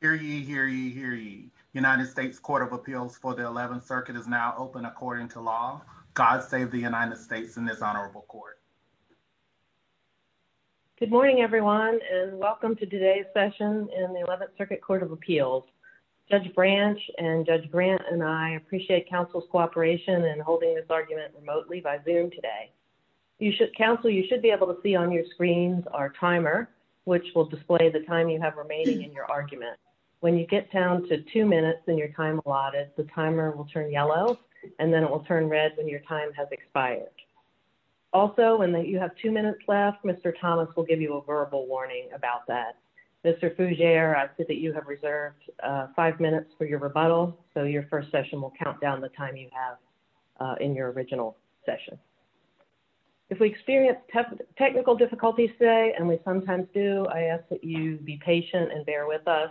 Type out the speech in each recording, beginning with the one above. Hear ye, hear ye, hear ye. United States Court of Appeals for the 11th Circuit is now open according to law. God save the United States in this honorable court. Good morning, everyone, and welcome to today's session in the 11th Circuit Court of Appeals. Judge Branch and Judge Grant and I appreciate counsel's cooperation in holding this argument remotely by Zoom today. Counsel, you should be able to see on your screens our timer, which will display the time you have remaining in your argument. When you get down to two minutes in your time allotted, the timer will turn yellow and then it will turn red when your time has expired. Also, when you have two minutes left, Mr. Thomas will give you a verbal warning about that. Mr. Fougere, I see that you have reserved five minutes for your rebuttal, so your first session will count down the time you have in your original session. If we experience technical difficulties today, and we sometimes do, I ask that you be patient and bear with us.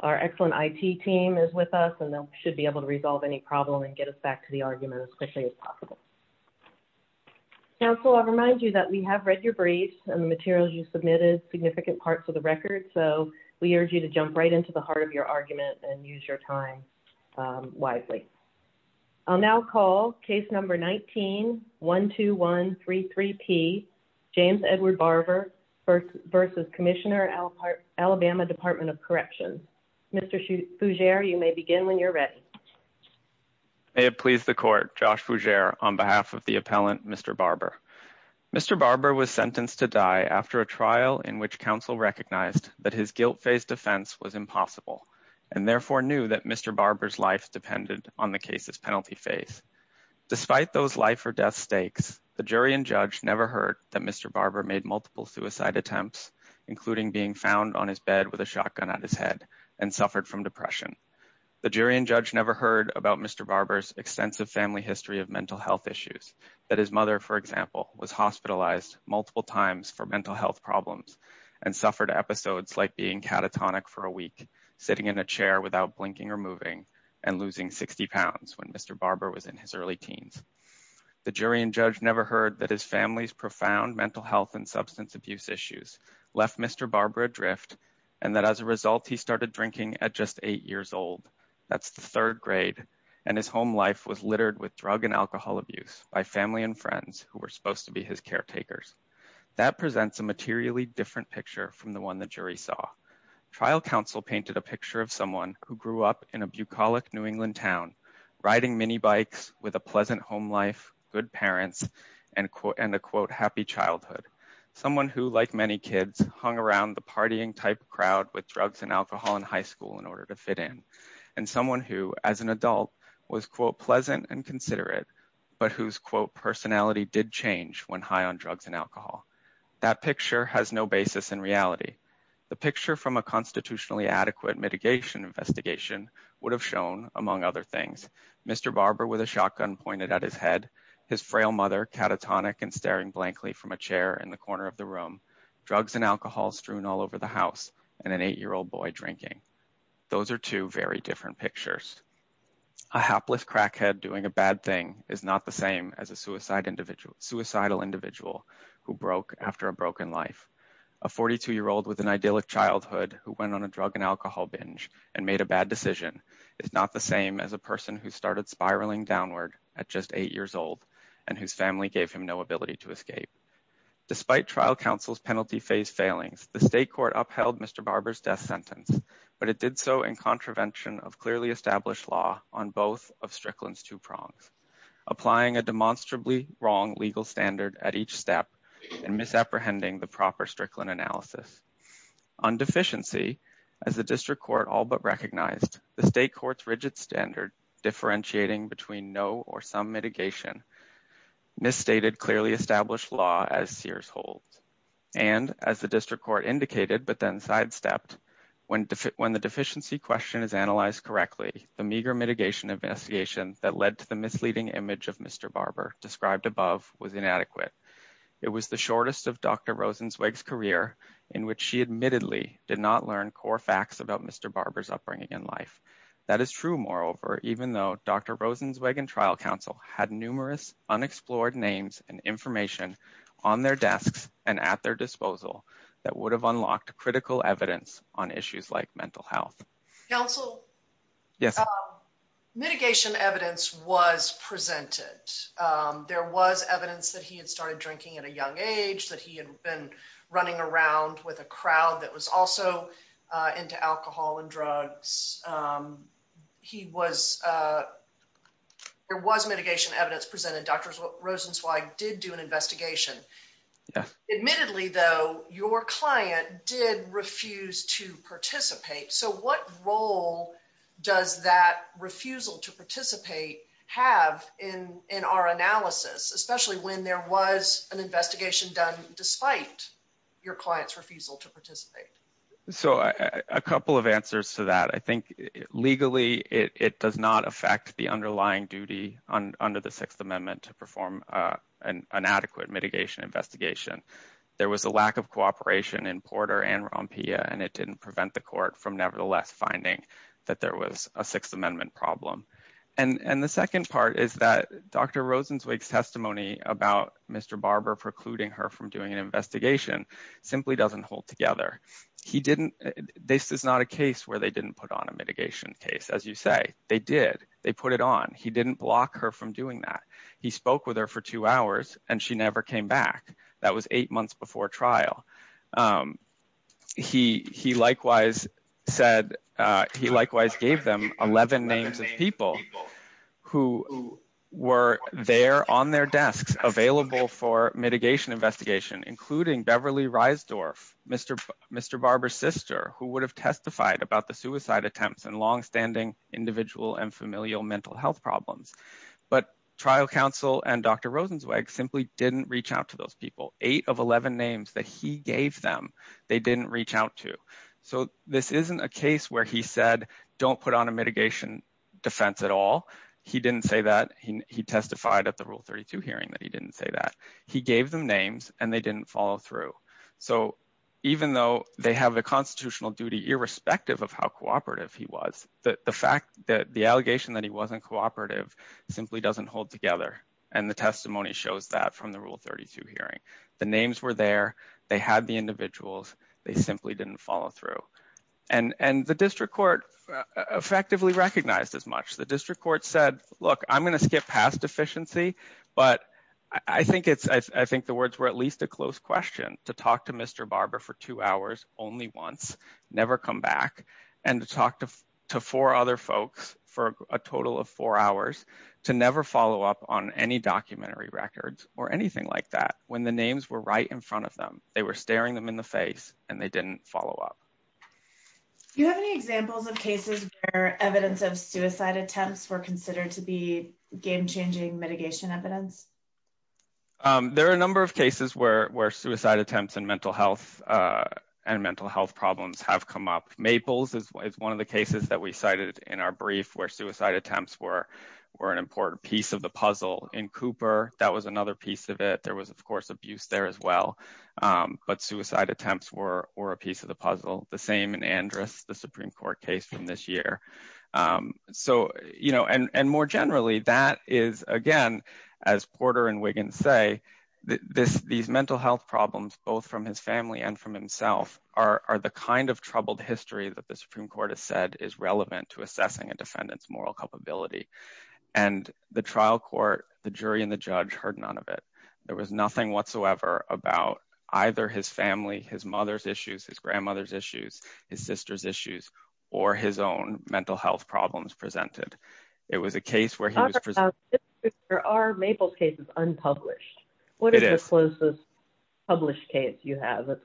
Our excellent IT team is with us and they should be able to resolve any problem and get us back to the argument as quickly as possible. Counsel, I remind you that we have read your briefs and the materials you submitted, significant parts of the record, so we urge you to jump right into the heart of your argument and use your time widely. I'll now call case number 19-12133P, James Edward Barber versus Commissioner Alabama Department of Corrections. Mr. Fougere, you may begin when you're ready. May it please the court, Josh Fougere on behalf of the appellant, Mr. Barber. Mr. Barber was sentenced to die after a trial in which counsel recognized that his guilt-faced offense was impossible and therefore knew that Mr. Barber's life depended on the case's penalty face. Despite those life or death stakes, the jury and judge never heard that Mr. Barber made multiple suicide attempts, including being found on his bed with a shotgun at his head and suffered from depression. The jury and judge never heard about Mr. Barber's extensive family history of mental health issues, that his mother, for example, was hospitalized multiple times for mental health problems and suffered episodes like being catatonic for a week, sitting in a chair without blinking or moving, and losing 60 pounds when Mr. Barber was in his early teens. The jury and judge never heard that his family's profound mental health and substance abuse issues left Mr. Barber adrift and that as a result, he started drinking at just eight years old. That's the third grade, and his home life was littered with drug and alcohol abuse by family and friends who were supposed to be his caretakers. That presents a materially different picture from the one the jury saw. Trial counsel painted a picture of someone who grew up in a bucolic New England town, riding mini bikes with a pleasant home life, good parents, and a, quote, happy childhood. Someone who, like many kids, hung around the partying type crowd with drugs and alcohol in high school in order to fit in, and someone who, as an adult, was, quote, pleasant and considerate, but whose, quote, personality did change when high on drugs and alcohol. That picture has no basis in reality. The picture from a constitutionally adequate mitigation investigation would have shown, among other things, Mr. Barber with a shotgun pointed at his head, his frail mother catatonic and staring blankly from a chair in the corner of the room, drugs and alcohol strewn all over the house, and an eight-year-old boy drinking. Those are two very different pictures. A hapless crackhead doing a bad thing is not the same as a suicidal individual who broke after a broken life. A 42-year-old with an idyllic childhood who went on a drug and alcohol binge and made a bad decision is not the same as a person who started spiraling downward at just eight years old and whose family gave him no ability to escape. Despite trial counsel's penalty phase failings, the state court upheld Mr. Barber's death sentence, but it did so in contravention of clearly established law on both of Strickland's two prongs. Applying a demonstrably wrong legal standard at each step and misapprehending the proper Strickland analysis. On deficiency, as the district court all but recognized, the state court's rigid standard, differentiating between no or some mitigation, misstated clearly established law as Sears holds. And, as the district court indicated but then sidestepped, when the deficiency question is analyzed correctly, the meager mitigation investigation that led to the misleading image of Mr. Barber described above was inadequate. It was the shortest of Dr. Rosenzweig's career in which she admittedly did not learn core facts about Mr. Barber's upbringing in life. That is true, moreover, even though Dr. Rosenzweig and trial counsel had numerous unexplored names and information on their desks and at their disposal that would have unlocked critical evidence on issues like mental health. Counsel? Yes. Mitigation evidence was presented. There was evidence that he had started drinking at a young age, that he had been running around with a crowd that was also into alcohol and drugs. He was, there was mitigation evidence presented. Dr. Rosenzweig did do an investigation. Yes. Admittedly, though, your client did refuse to participate. So, what role does that refusal to participate have in our analysis, especially when there was an investigation done despite your client's refusal to participate? So, a couple of answers to that. I think legally it does not investigate. There was a lack of cooperation in Porter and Rompia and it did not prevent the court from nevertheless finding that there was a Sixth Amendment problem. And the second part is that Dr. Rosenzweig's testimony about Mr. Barber precluding her from doing an investigation simply does not hold together. This is not a case where they did not put on a mitigation case. As you say, they did. They put it on. He did not block her from doing that. He spoke with her for two hours and she never came back. That was eight months before trial. He likewise said, he likewise gave them 11 names of people who were there on their desks available for mitigation investigation, including Beverly Reisdorf, Mr. Barber's sister, who would have testified about the suicide attempts and longstanding individual and familial mental health problems. But trial counsel and Dr. Rosenzweig simply did not reach out to those people. Eight of 11 names that he gave them, they did not reach out to. So, this is not a case where he said, do not put on a mitigation defense at all. He did not say that. He testified at the Rule 32 hearing that he did not say that. He gave them names and they did not follow through. So, even though they have a constitutional duty irrespective of how cooperative he was, the fact that the allegation that he was not cooperative simply does not hold together. And the testimony shows that from the Rule 32 hearing. The names were there. They had the individuals. They simply did not follow through. And the district court effectively recognized as much. The district court said, look, I am going to skip past deficiency, but I think the words were at least a close question, to talk to Mr. Barber for two hours only once, never come back, and to talk to four other folks for a total of four hours, to never follow up on any documentary records or anything like that. When the names were right in front of them, they were staring them in the face and they did not follow up. Do you have any examples of cases where evidence of suicide attempts were considered to be game-changing mitigation evidence? There are a number of cases where suicide attempts and mental health problems have come up. Maples is one of the cases that we cited in our brief where suicide attempts were an important piece of the puzzle. In Cooper, that was another piece of it. There was, of course, abuse there as well. But suicide attempts were a piece of the puzzle. The same in Andrus, the Supreme Court case from this year. And more generally, that is, again, as Porter and Wiggins say, these mental health problems, both from his family and from himself, are the kind of troubled history that the Supreme Court has said is relevant to assessing a defendant's moral culpability. The trial court, the jury and the judge heard none of it. There was nothing whatsoever about either his family, his mother's issues, his grandmother's issues, his sister's issues, or his own mental health problems presented. There are Maples cases unpublished. What is the closest published case you have that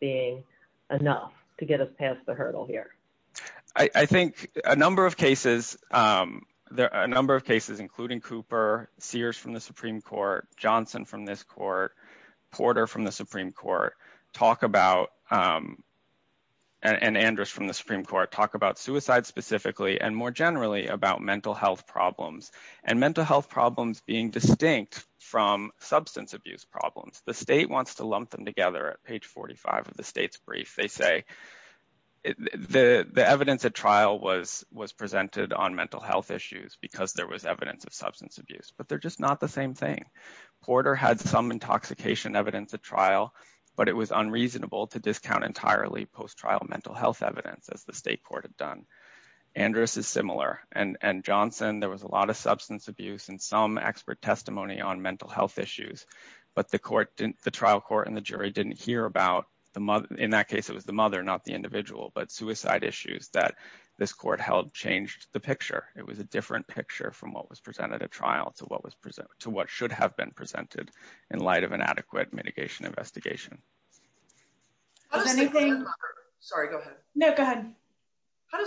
being enough to get us past the hurdle here? I think a number of cases, including Cooper, Sears from the Supreme Court, Johnson from this court, Porter from the Supreme Court, talk about, and Andrus from the Supreme Court, talk about suicide specifically and more generally about mental health problems. And mental health problems being distinct from substance abuse problems. The state wants to lump them together at page 45 of the state's brief. They say the evidence at trial was presented on mental health issues because there was evidence of substance abuse, but they're just not the same thing. Porter had some intoxication evidence at trial, but it was unreasonable to discount entirely post-trial mental health evidence, as the state court had done. Andrus is similar. And Johnson, there was a lot of substance abuse and some expert testimony on mental health issues. But the trial court and the jury didn't hear about, in that case, it was the mother, not the individual, but suicide issues that this court held changed the picture. It was a different picture from what was presented at trial to what should have been presented in light of an adequate mitigation investigation. How does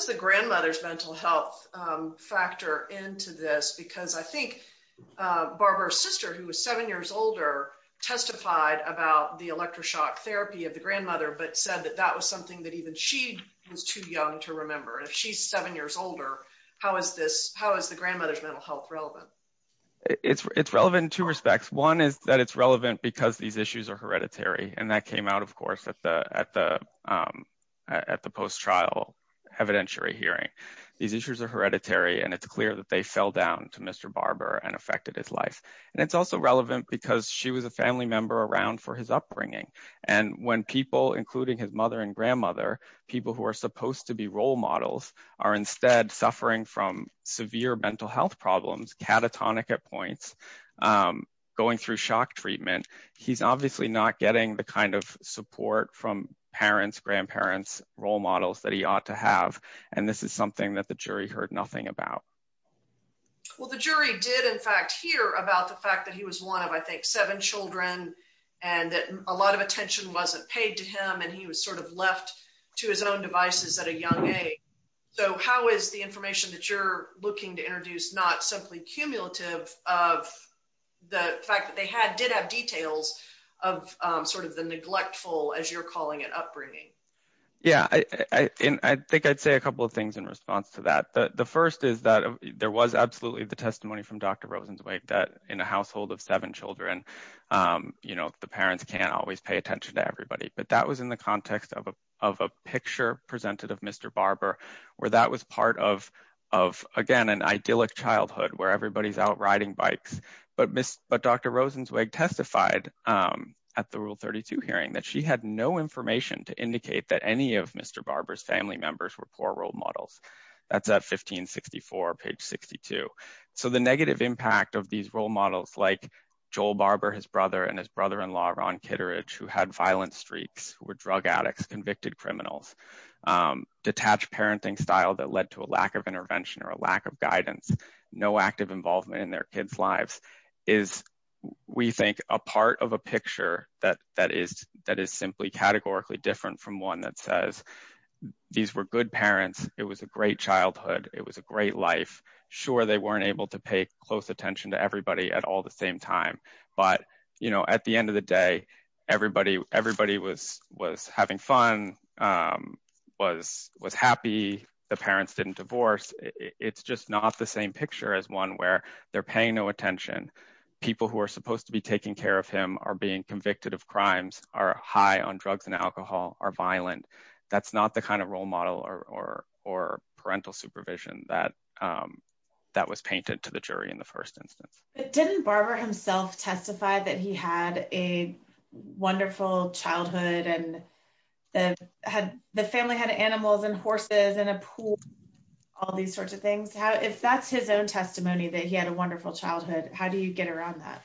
the grandmother's mental health factor into this? Because I think Barbara's sister, who was seven years older, testified about the electroshock therapy of the grandmother, but said that that was something that even she was too young to remember. And if she's seven years older, how is the grandmother's mental health relevant? It's relevant in two respects. One is that it's relevant because these issues are hereditary. And that came out, of course, at the post-trial evidentiary hearing. These issues are hereditary, and it's clear that they fell down to Mr. Barber and affected his life. And it's also relevant because she was a family member around for his upbringing. And when people, including his mother and grandmother, people who are supposed to be role models, are instead suffering from severe mental health problems, catatonic at points, going through shock treatment, he's obviously not getting the kind of support from parents, grandparents, role models that he ought to have. And this is something that the jury heard nothing about. Well, the jury did, in fact, hear about the fact that he was one of, I think, seven children, and that a lot of attention wasn't paid to him, and he was sort of left to his own devices at a young age. So how is the information that you're looking to introduce not simply cumulative of the fact that they did have details of sort of the neglectful, as you're calling it, upbringing? Yeah. And I think I'd say a couple of things in response to that. The first is that there was absolutely the testimony from Dr. Rosenzweig that in a household of seven children, the parents can't always pay attention to everybody. But that context of a picture presented of Mr. Barber, where that was part of, again, an idyllic childhood where everybody's out riding bikes. But Dr. Rosenzweig testified at the Rule 32 hearing that she had no information to indicate that any of Mr. Barber's family members were poor role models. That's at 1564, page 62. So the negative impact of these role models like Joel Barber, his brother, and his brother-in-law, Ron Kitteridge, who had violent streaks, who were drug addicts, convicted criminals, detached parenting style that led to a lack of intervention or a lack of guidance, no active involvement in their kids' lives, is, we think, a part of a picture that is simply categorically different from one that says, these were good parents, it was a great childhood, it was a great life. Sure, they weren't able to pay close attention to everybody at all the same time. But at the end of the day, everybody was having fun, was happy, the parents didn't divorce. It's just not the same picture as one where they're paying no attention, people who are supposed to be taking care of him are being convicted of crimes, are high on drugs and alcohol, are violent. That's not the kind of role model or parental supervision that was painted to the children. If Barber himself testified that he had a wonderful childhood and the family had animals and horses and a pool, all these sorts of things, if that's his own testimony that he had a wonderful childhood, how do you get around that?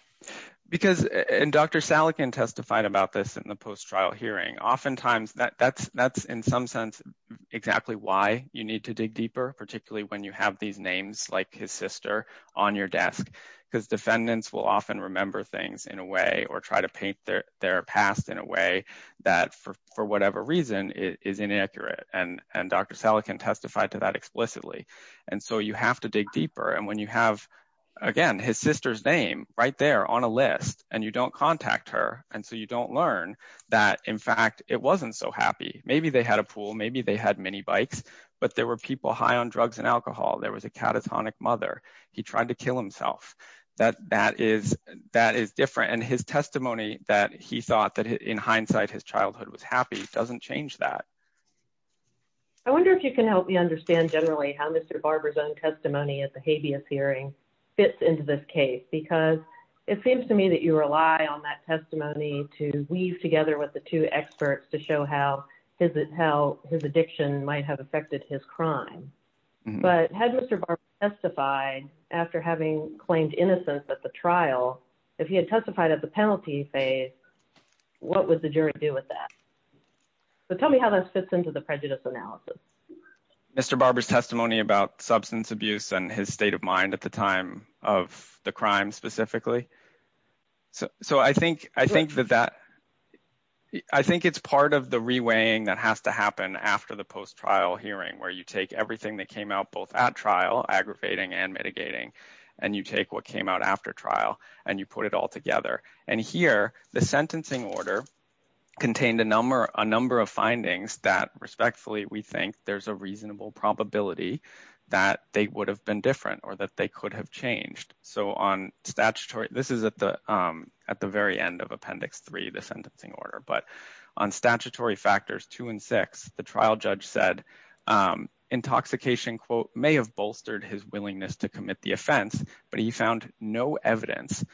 Because, and Dr. Salekin testified about this in the post-trial hearing, oftentimes that's in some sense exactly why you need to dig deeper, particularly when you have these names like his sister on your desk, because defendants will often remember things in a way or try to paint their past in a way that for whatever reason is inaccurate. And Dr. Salekin testified to that explicitly. And so you have to dig deeper. And when you have, again, his sister's name right there on a list and you don't contact her, and so you don't learn that, in fact, it wasn't so happy. Maybe they had a pool, maybe they had mini bikes, but there were people high on drugs and alcohol. There was a catatonic mother, he tried to kill himself. That is different. And his testimony that he thought that in hindsight his childhood was happy doesn't change that. I wonder if you can help me understand generally how Mr. Barber's own testimony at the habeas hearing fits into this case, because it seems to me that you rely on that testimony to weave together with the two experts to show how his addiction might have affected his crime. But had Mr. Barber testified after having claimed innocence at the trial, if he had testified at the penalty phase, what would the jury do with that? So tell me how that fits into the prejudice analysis. Mr. Barber's testimony about substance abuse and his state of mind at the time of the crime specifically. So I think that that, I think it's part of the reweighing that has to where you take everything that came out both at trial, aggravating and mitigating, and you take what came out after trial and you put it all together. And here the sentencing order contained a number of findings that respectfully we think there's a reasonable probability that they would have been different or that they could have changed. So on statutory, this is at the very end of appendix three, the sentencing order, but on statutory factors two and six, the trial judge said intoxication, quote, may have bolstered his willingness to commit the offense, but he found no evidence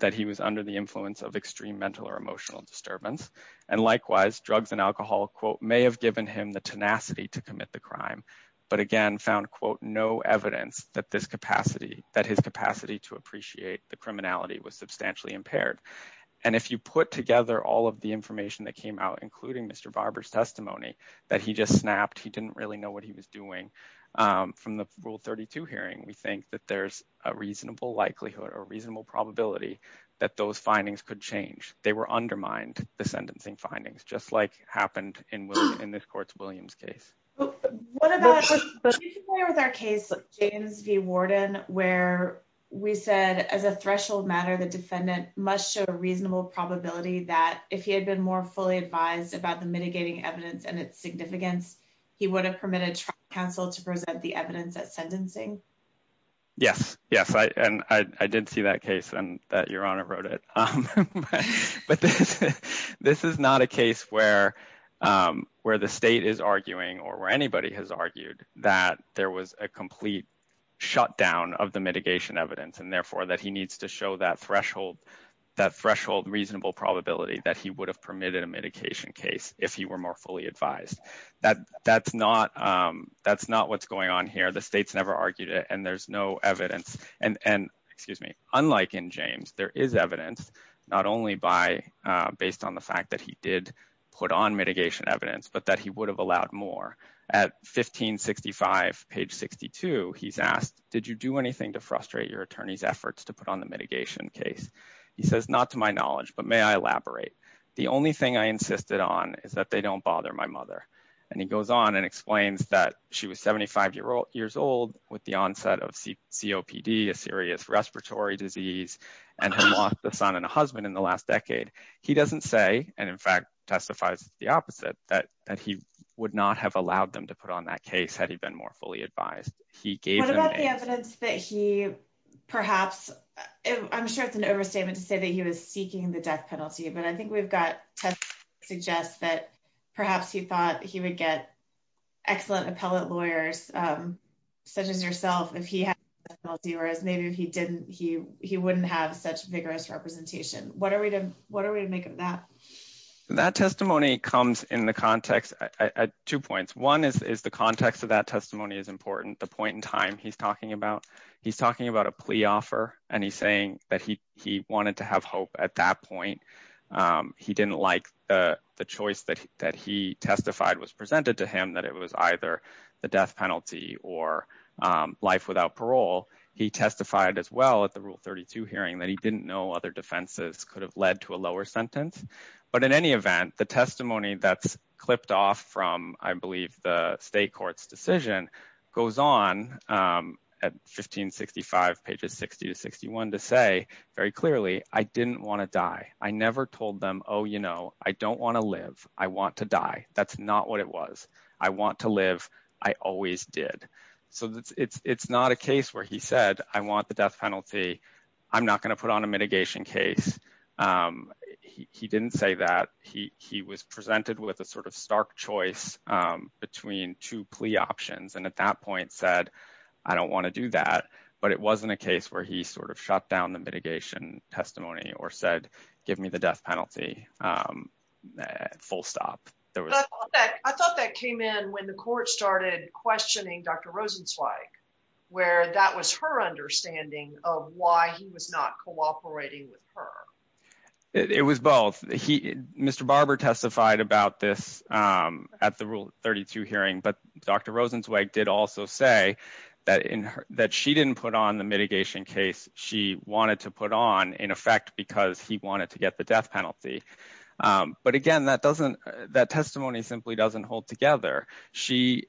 that he was under the influence of extreme mental or emotional disturbance. And likewise, drugs and alcohol, quote, may have given him the tenacity to commit the crime, but again, found, quote, no evidence that his capacity to appreciate the criminality was substantially impaired. And if you put together all of the information that came out, including Mr. Barber's testimony, that he just snapped, he didn't really know what he was doing. From the rule 32 hearing, we think that there's a reasonable likelihood or reasonable probability that those findings could change. They were undermined, the sentencing findings, just like happened in this court's Williams case. What about particularly with our case, James v. Warden, where we said as a threshold matter, the defendant must show a reasonable probability that if he had been more fully advised about the mitigating evidence and its significance, he would have permitted trial counsel to present the evidence at sentencing? Yes, yes. And I did see that case and that Your Honor wrote it. But this is not a case where the state is arguing or where anybody has argued that there was a complete shutdown of the mitigation evidence and therefore that he needs to show that threshold reasonable probability that he would have permitted a mitigation case if he were more fully advised. That's not what's going on here. The state's never argued it and there's no evidence. And unlike in James, there is evidence not only based on the fact that he did put on mitigation evidence, but that he would have allowed more. At 1565, page 62, he's asked, did you do anything to frustrate your attorney's efforts to put on the mitigation case? He says, not to my knowledge, but may I elaborate? The only thing I insisted on is that they don't bother my mother. And he goes on and explains that she was 75 years old with the onset of COPD, a serious respiratory disease, and had lost a son and a husband in the last decade. He doesn't say, and in fact testifies the opposite, that he would not have allowed them to put on that case had he been more fully advised. What about the evidence that he perhaps I'm sure it's an overstatement to say that he was seeking the death penalty, but I think we've got tests that suggest that perhaps he thought he would get excellent appellate lawyers, such as yourself, if he had penalty, whereas maybe if he didn't, he wouldn't have such vigorous representation. What are we to make of that? That testimony comes in the context at two points. One is the context of that testimony is important. The point in time he's talking about. He's talking about a plea offer and he's saying that he wanted to have hope at that point. He didn't like the choice that he testified was presented to him, that it was either the death penalty or life without parole. He testified as well at the Rule 32 hearing that he didn't know other defenses could have led to a lower sentence. But in any event, the testimony that's clipped off from, I believe, the state court's decision goes on at 1565 pages 60 to 61 to say very clearly, I didn't want to die. I never told them, oh, you know, I don't want to live. I want to die. That's not what it was. I want to live. I always did. So it's not a case where he said, I want the death penalty. I'm not going to put on a mitigation case. He didn't say that. He was presented with a sort of stark choice between two plea options and at that point said, I don't want to do that. But it wasn't a case where he sort of shut down the mitigation testimony or said, give me the death penalty full stop. I thought that came in when the court started questioning Dr. Rosenzweig, where that was her understanding of why he was not cooperating with her. It was both. Mr. Barber testified about this at the Rule 32 hearing, but Dr. Rosenzweig did also say that she didn't put on the mitigation case she wanted to put on in effect because he wanted to get the death penalty. But again, that testimony simply doesn't hold together. She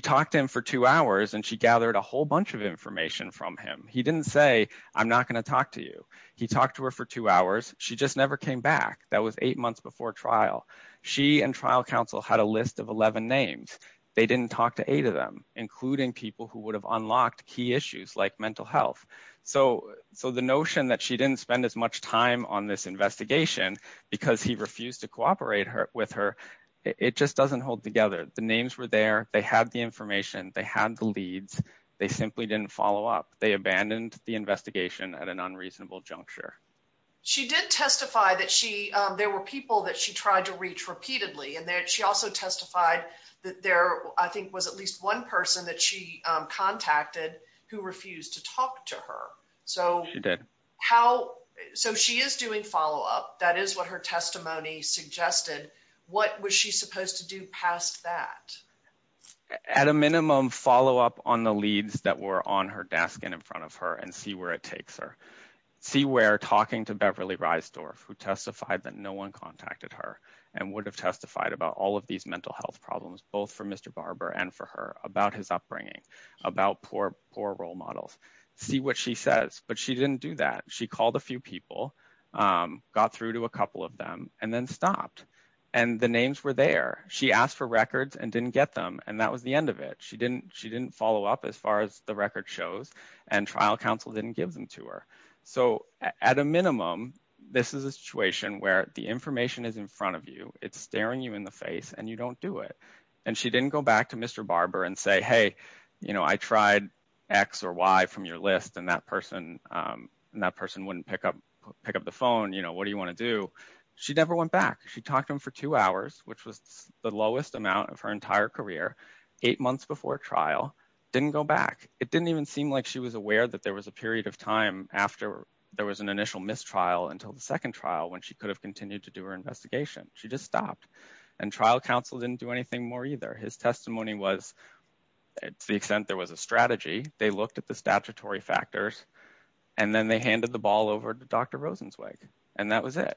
talked to him for two hours and she gathered a whole bunch of information from him. He didn't say, I'm not going to talk to you. He talked to her for two hours. She just never came back. That was eight months before trial. She and trial counsel had a list of 11 names. They didn't talk to eight of them, including people who would have unlocked key issues like mental health. So the notion that she didn't spend as much time on this investigation because he refused to cooperate with her, it just doesn't hold together. The names were there. They had the information. They had the leads. They simply didn't follow up. They abandoned the investigation at an unreasonable juncture. She did testify that there were people that she tried to reach repeatedly. She also testified that there, I think, was at least one person that she contacted who refused to talk to her. She did. So she is doing follow-up. That is what her testimony suggested. What was she supposed to do past that? At a minimum, follow up on the leads that were on her desk and in front of her and see where it takes her. See where talking to Beverly Reisdorf, who testified that no one contacted her and would have testified about all of these mental health problems, both for Mr. Barber and for her, about his upbringing, about poor role models. See what she says. But she didn't do that. She called a few people, got through to a couple of and then stopped. The names were there. She asked for records and didn't get them. That was the end of it. She didn't follow up as far as the record shows. Trial counsel didn't give them to her. So at a minimum, this is a situation where the information is in front of you. It is staring you in the face. You don't do it. She didn't go back to Mr. Barber and say, hey, I tried X or Y from your list and that person wouldn't pick up the phone. What do you want to do? She never went back. She talked to him for two hours, which was the lowest amount of her entire career, eight months before trial, didn't go back. It didn't even seem like she was aware that there was a period of time after there was an initial mistrial until the second trial when she could have continued to do her investigation. She just stopped. And trial counsel didn't do anything more His testimony was to the extent there was a strategy. They looked at the statutory factors and then they handed the ball over to Dr. Rosenzweig. And that was it.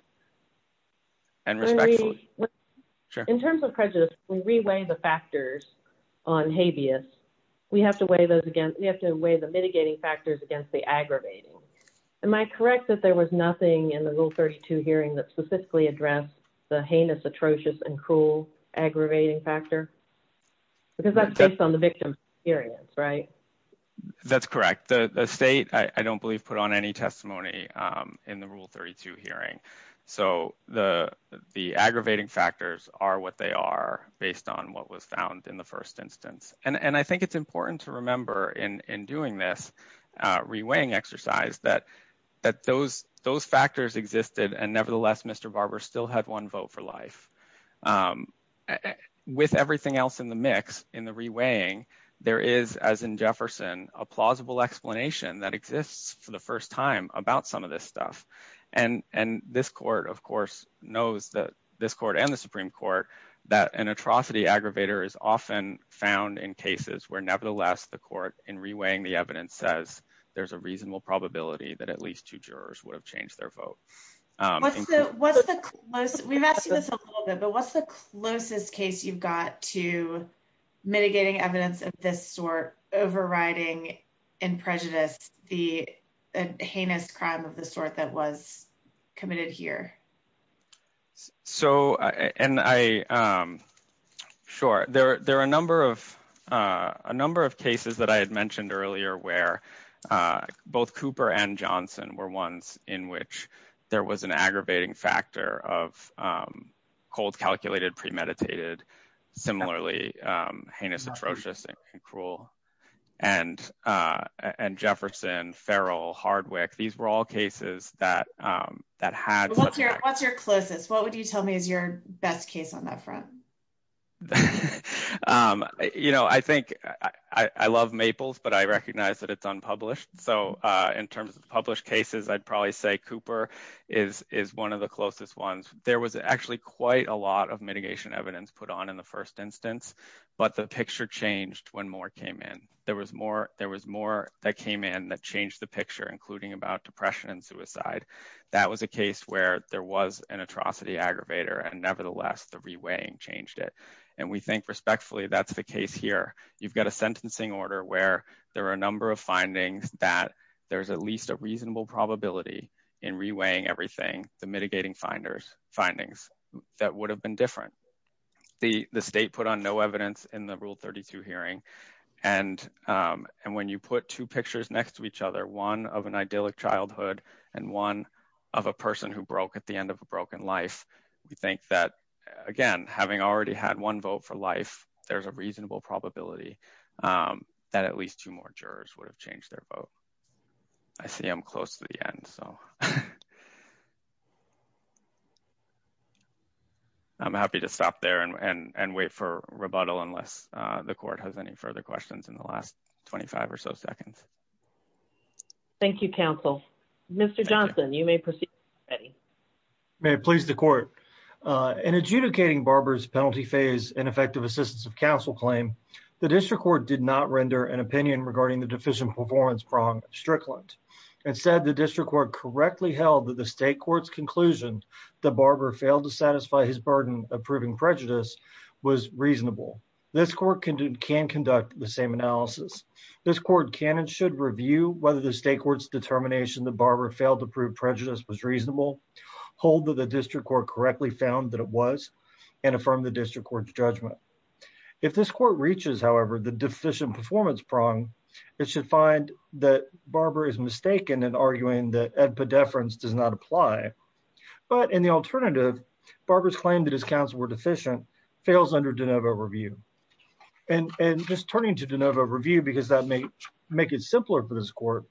In terms of prejudice, we reweigh the factors on habeas. We have to weigh the mitigating factors against the aggravating. Am I correct that there was nothing in the Rule 32 hearing that specifically addressed the heinous, atrocious and cruel aggravating factor? Because that's based on the victim's experience, right? That's correct. The state, I don't believe, put on any testimony in the Rule 32 hearing. So the aggravating factors are what they are based on what was found in the first instance. And I think it's important to remember in doing this exercise that those factors existed. And nevertheless, Mr. Barber still had one vote for life. With everything else in the mix in the reweighing, there is, as in Jefferson, a plausible explanation that exists for the first time about some of this stuff. And this Court, of course, knows that this Court and the Supreme Court that an atrocity aggravator is often found in cases where nevertheless the Court in reweighing the evidence says there's a reasonable probability that at least two jurors would have changed their vote. We've asked you this a little bit, but what's the closest case you've got to mitigating evidence of this sort overriding in prejudice the heinous crime of the sort that was committed here? Sure, there are a number of cases that I had mentioned earlier where both Cooper and Johnson were ones in which there was an aggravating factor of cold calculated, premeditated, similarly heinous, atrocious, and cruel. And Jefferson, Farrell, Hardwick, these were all cases that had... What's your closest? What would you tell me is your best case on that front? You know, I think I love Maples, but I recognize that it's unpublished. So in terms of published cases, I'd probably say Cooper is one of the closest ones. There was actually quite a lot of mitigation evidence put on in the first instance, but the picture changed when more came in that changed the picture, including about depression and suicide. That was a case where there was an atrocity aggravator and nevertheless the reweighing changed it. And we think respectfully that's the case here. You've got a sentencing order where there are a number of findings that there's at least a reasonable probability in reweighing everything, the mitigating findings that would have been different. The state put on no evidence in the Rule 32 hearing. And when you put two pictures next to each other, one of an idyllic childhood and one of a person who broke at the end of a broken life, we think that, again, having already had one vote for life, there's a reasonable probability that at least two more jurors would have changed their vote. I see I'm close to the end, so... I'm happy to stop there and wait for rebuttal unless the court has any further questions in the last 25 or so seconds. Thank you, counsel. Mr. Johnson, you may proceed. May it please the court. In adjudicating Barber's penalty phase and effective assistance of counsel claim, the district court did not render an opinion regarding the deficient performance prong, Strickland. Instead, the district court correctly held that the state court's conclusion that Barber failed to satisfy his burden of proving prejudice was reasonable. This court can conduct the same analysis. This court can and should review whether the state court's determination that Barber failed to prove prejudice was reasonable, hold that the district court correctly found that it was, and affirm the district court's judgment. If this court reaches, however, the deficient performance prong, it should find that Barber is mistaken in arguing that in the alternative, Barber's claim that his counsel were deficient fails under DeNovo review. And just turning to DeNovo review, because that may make it simpler for this court,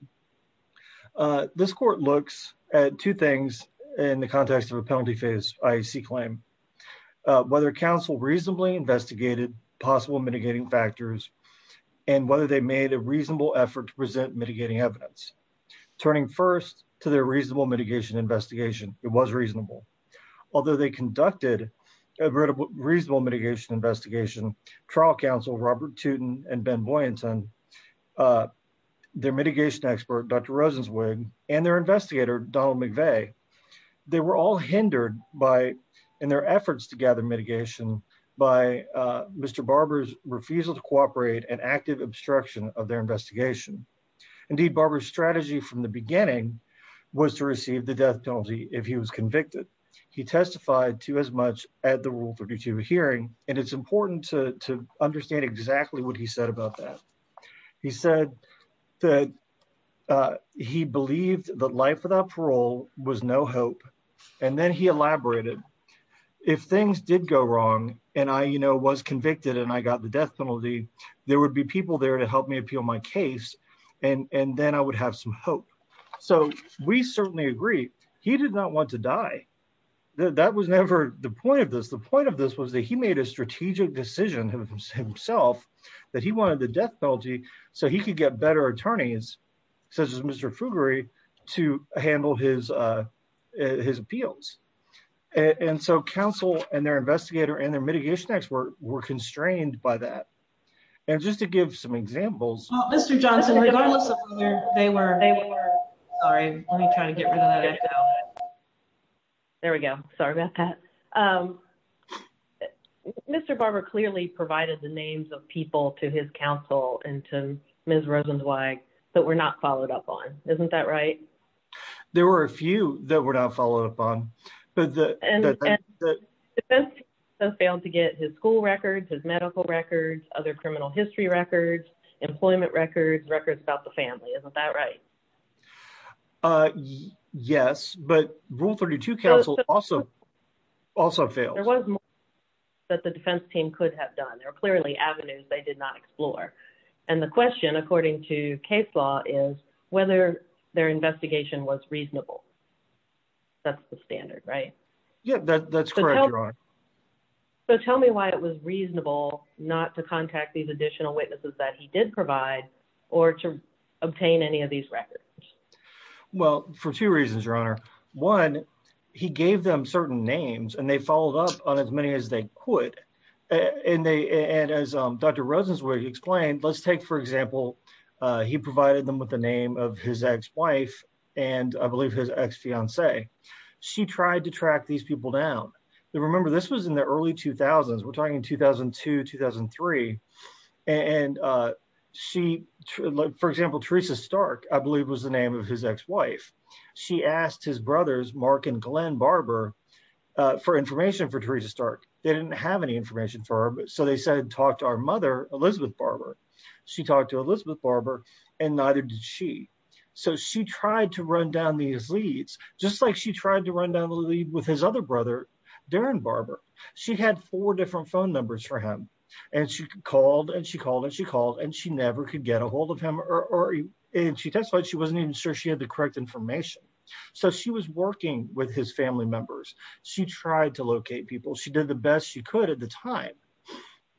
this court looks at two things in the context of a penalty phase IAC claim. Whether counsel reasonably investigated possible mitigating factors and whether they made a reasonable effort to present mitigating evidence. Turning first to their reasonable mitigation investigation, it was reasonable. Although they conducted a reasonable mitigation investigation, trial counsel Robert Tootin and Ben Boyenton, their mitigation expert, Dr. Rosenzweig, and their investigator, Donald McVeigh, they were all hindered in their efforts to gather mitigation by Mr. Barber's refusal to cooperate and active obstruction of their investigation. Indeed, Barber's strategy from the beginning was to receive the death penalty if he was convicted. He testified to as much at the Rule 32 hearing, and it's important to understand exactly what he said about that. He said that he believed that life without parole was no hope. And then he elaborated, if things did go wrong, and I, you know, was convicted and I got the death penalty, there would be people there to help me appeal my case, and then I would have some hope. So, we certainly agree, he did not want to die. That was never the point of this. The point of this was that he made a strategic decision himself that he wanted the death penalty so he could get better attorneys, such as Mr. Fugary, to handle his appeals. And so, counsel and their just to give some examples. Well, Mr. Johnson, regardless of whether they were, sorry, let me try to get rid of that echo. There we go. Sorry about that. Mr. Barber clearly provided the names of people to his counsel and to Ms. Rosenzweig that were not followed up on. Isn't that right? There were a few that were not followed up on. And the defense team failed to get his school records, his medical records, other criminal history records, employment records, records about the family. Isn't that right? Yes, but Rule 32 counsel also failed. There was more that the defense team could have done. There were clearly avenues they did not explore. And the question, according to case law, is whether their investigation was reasonable. That's the standard, right? Yeah, that's correct. So tell me why it was reasonable not to contact these additional witnesses that he did provide or to obtain any of these records. Well, for two reasons, Your Honor. One, he gave them certain names and they followed up on as many as they could. And as Dr. Rosenzweig explained, let's take, for example, he provided them with the name of his ex-wife and I believe his ex-fiancée. She tried to track these people down. Remember, this was in the early 2000s. We're talking 2002, 2003. And she, for example, Teresa Stark, I believe was the name of his ex-wife. She asked his brothers, Mark and Glenn Barber, for information for Teresa Stark. They didn't have any information for her. So they said, talk to our mother, Elizabeth Barber. She talked to Elizabeth Barber and neither did she. So she tried to run down these leads, just like she tried to run down the lead with his other brother, Darren Barber. She had four different phone numbers for him and she called and she called and she called and she never could get a hold of him. And she testified she wasn't even sure she had the correct information. So she was working with his family members. She tried to locate people. She did the best she could at the time.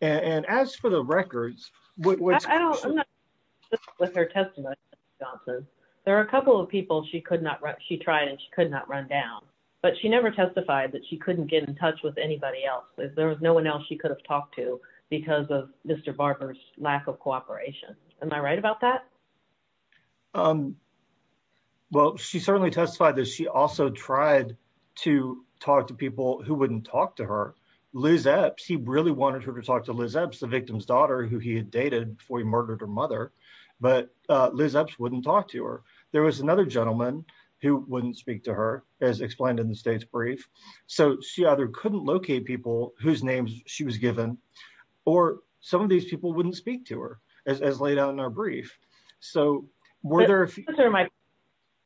And as for the records, with her testimony, there are a couple of people she could not, she tried and she could not run down. But she never testified that she couldn't get in touch with anybody else. There was no one else she could have talked to because of Mr. Barber's lack of cooperation. Am I right about that? Well, she certainly testified that she also tried to talk to people who wouldn't talk to her. Liz Epps, he really wanted her to talk to Liz Epps, the victim's daughter, who he had dated before he murdered her mother. But Liz Epps wouldn't talk to her. There was another gentleman who wouldn't speak to her, as explained in the state's brief. So she either couldn't locate people whose names she was given or some of these people wouldn't speak to her, as laid out in our brief. The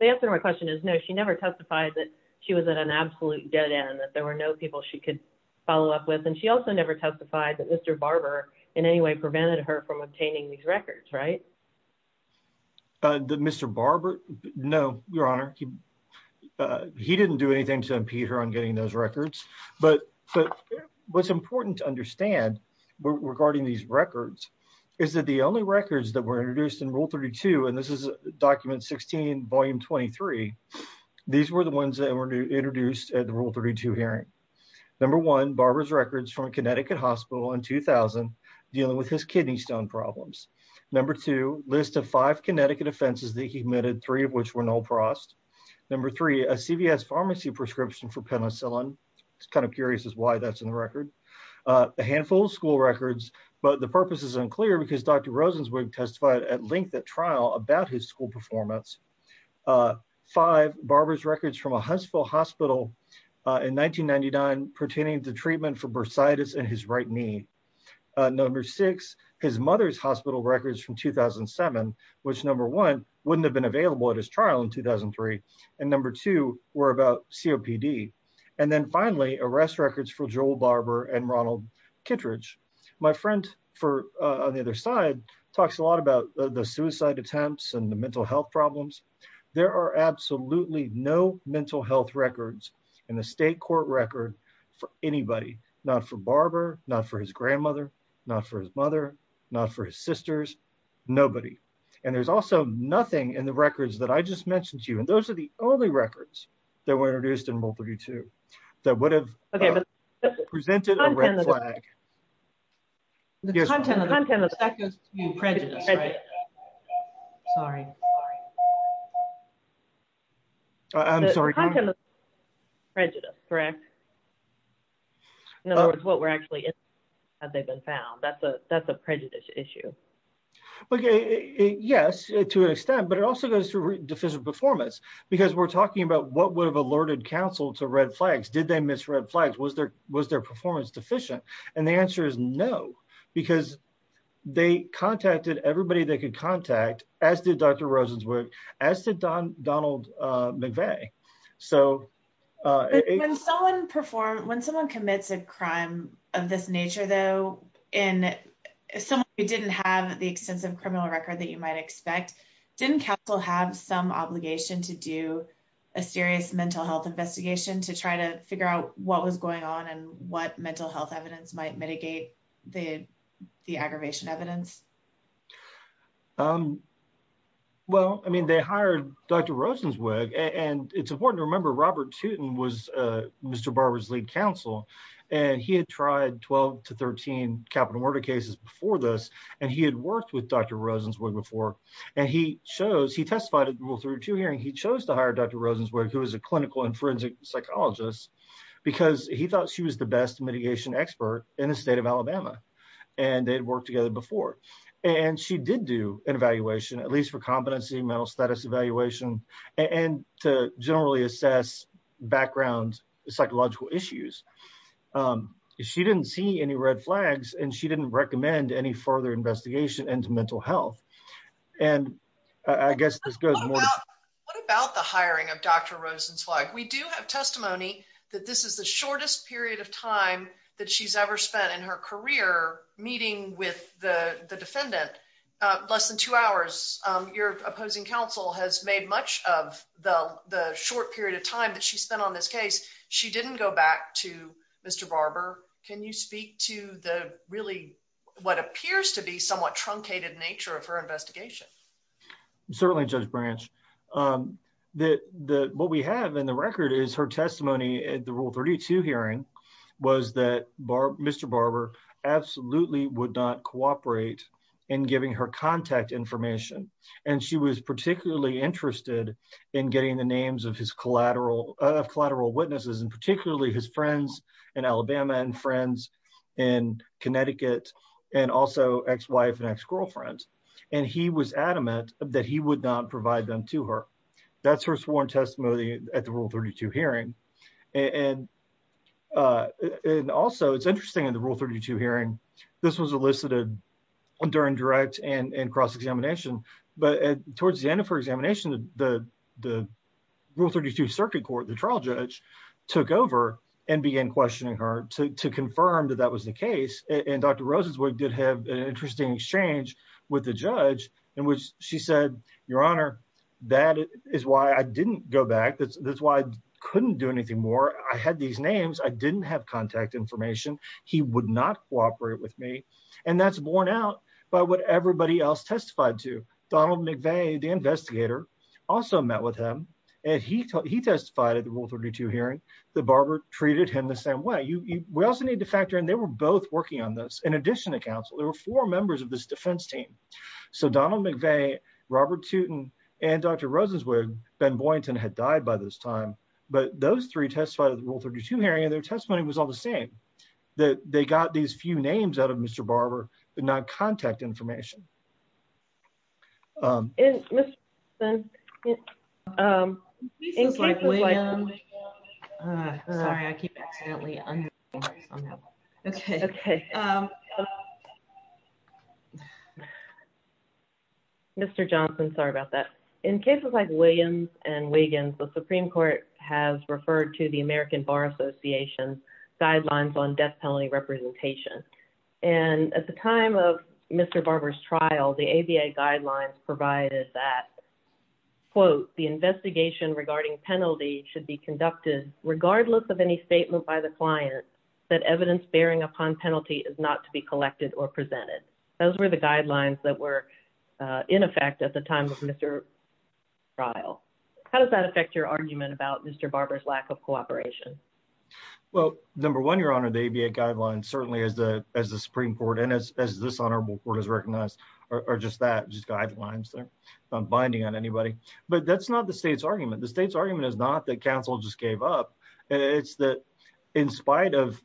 answer to my question is no, she never testified that she was at an absolute dead end, that there were no people she could follow up with. And she also never testified that Mr. Barber in any way prevented her from obtaining these records, right? Mr. Barber? No, Your Honor. He didn't do anything to impede her on getting those records. But what's important to understand regarding these records is that the only records that were introduced in Rule 32, and this is Document 16, Volume 23, these were the ones that were introduced at the Rule 32 hearing. Number one, Barber's records from a Connecticut hospital in 2000, dealing with his kidney stone problems. Number two, list of five Connecticut offenses that he committed, three of which were no frost. Number three, a CVS pharmacy prescription for penicillin. It's kind of curious as why that's in the record. A handful of school records, but the purpose is unclear because Dr. Rosenzweig testified at length at trial about his school performance. Five, Barber's records from a Huntsville hospital in 1999 pertaining to treatment for bursitis in his right knee. Number six, his mother's hospital records from 2007, which number one, wouldn't have been available at his trial in 2003. And number two, were about COPD. And then finally, arrest records for Joel Barber and Ronald Kittredge. My friend on the other side talks a lot about the suicide attempts and the mental health problems. There are absolutely no mental health records in the state court record for anybody, not for Barber, not for his grandmother, not for his mother, not for his sisters, nobody. And there's also nothing in the records that I just mentioned to you. And those are the only records that were introduced in rule 32 that would have presented a red flag. The content of that goes to prejudice, right? Sorry. I'm sorry. Prejudice, correct? In other words, what we're actually in, have they been found? That's a prejudice issue. Yes, to an extent, but it also goes through deficient performance because we're talking about what would have alerted counsel to red flags. Did they miss red flags? Was their performance deficient? And the answer is no, because they contacted everybody they could contact, as did Dr. Rosenzweig, as did Donald McVeigh. When someone commits a crime of this nature, though, and someone who didn't have the extensive criminal record that you might expect, didn't counsel have some obligation to do a serious might mitigate the aggravation evidence? Well, I mean, they hired Dr. Rosenzweig, and it's important to remember Robert Tootin was Mr. Barber's lead counsel, and he had tried 12 to 13 capital murder cases before this, and he had worked with Dr. Rosenzweig before. And he testified at the rule 32 hearing, he chose to hire Dr. Rosenzweig, who was a clinical and forensic psychologist, because he thought she was the best mitigation expert in the state of Alabama, and they'd worked together before. And she did do an evaluation, at least for competency, mental status evaluation, and to generally assess background psychological issues. She didn't see any red flags, and she didn't recommend any further investigation into mental health. And I guess this goes more- What about the hiring of Dr. Rosenzweig? We do have testimony that this is the shortest period of time that she's ever spent in her career, meeting with the defendant, less than two hours. Your opposing counsel has made much of the short period of time that she spent on this case. She didn't go back to Mr. Barber. Can you speak to the really, what appears to be somewhat truncated nature of her investigation? Certainly, Judge Branch. What we have in the record is her was that Mr. Barber absolutely would not cooperate in giving her contact information. And she was particularly interested in getting the names of his collateral witnesses, and particularly his friends in Alabama, and friends in Connecticut, and also ex-wife and ex-girlfriend. And he was adamant that he would not provide them to her. That's her sworn testimony at the Rule 32 hearing. And also, it's interesting in the Rule 32 hearing, this was elicited during direct and cross-examination. But towards the end of her examination, the Rule 32 circuit court, the trial judge, took over and began questioning her to confirm that that was the case. And Dr. Rosenzweig did have an interesting exchange with the judge in which she said, Your Honor, that is why I didn't go back. That's why I couldn't do anything more. I had these names. I didn't have contact information. He would not cooperate with me. And that's borne out by what everybody else testified to. Donald McVeigh, the investigator, also met with him. And he testified at the Rule 32 hearing that Barber treated him the same way. You, we also need to factor in, they were both working on this. In addition to counsel, there were four members of this defense team. So Donald McVeigh, Robert Tootin, and Dr. Rosenzweig, Ben Boynton, had died by this time. But those three testified at the Rule 32 hearing, and their testimony was all the same, that they got these few names out of Mr. Barber, but not contact information. In cases like Williams and Wiggins, the Supreme Court has referred to the American Bar Association guidelines on death penalty representation. And at the time of Mr. Barber's trial, the ABA guidelines provided that, quote, the investigation regarding penalty should be conducted regardless of any statement by the client that evidence bearing upon penalty is not to be collected or presented. Those were the guidelines that were in effect at the time of Mr. trial. How does that affect your argument about Mr. Barber's lack of cooperation? Well, number one, Your Honor, the ABA guidelines, certainly as the, as the Supreme Court, as this honorable court has recognized, are just that, just guidelines. They're not binding on anybody. But that's not the state's argument. The state's argument is not that counsel just gave up. It's that in spite of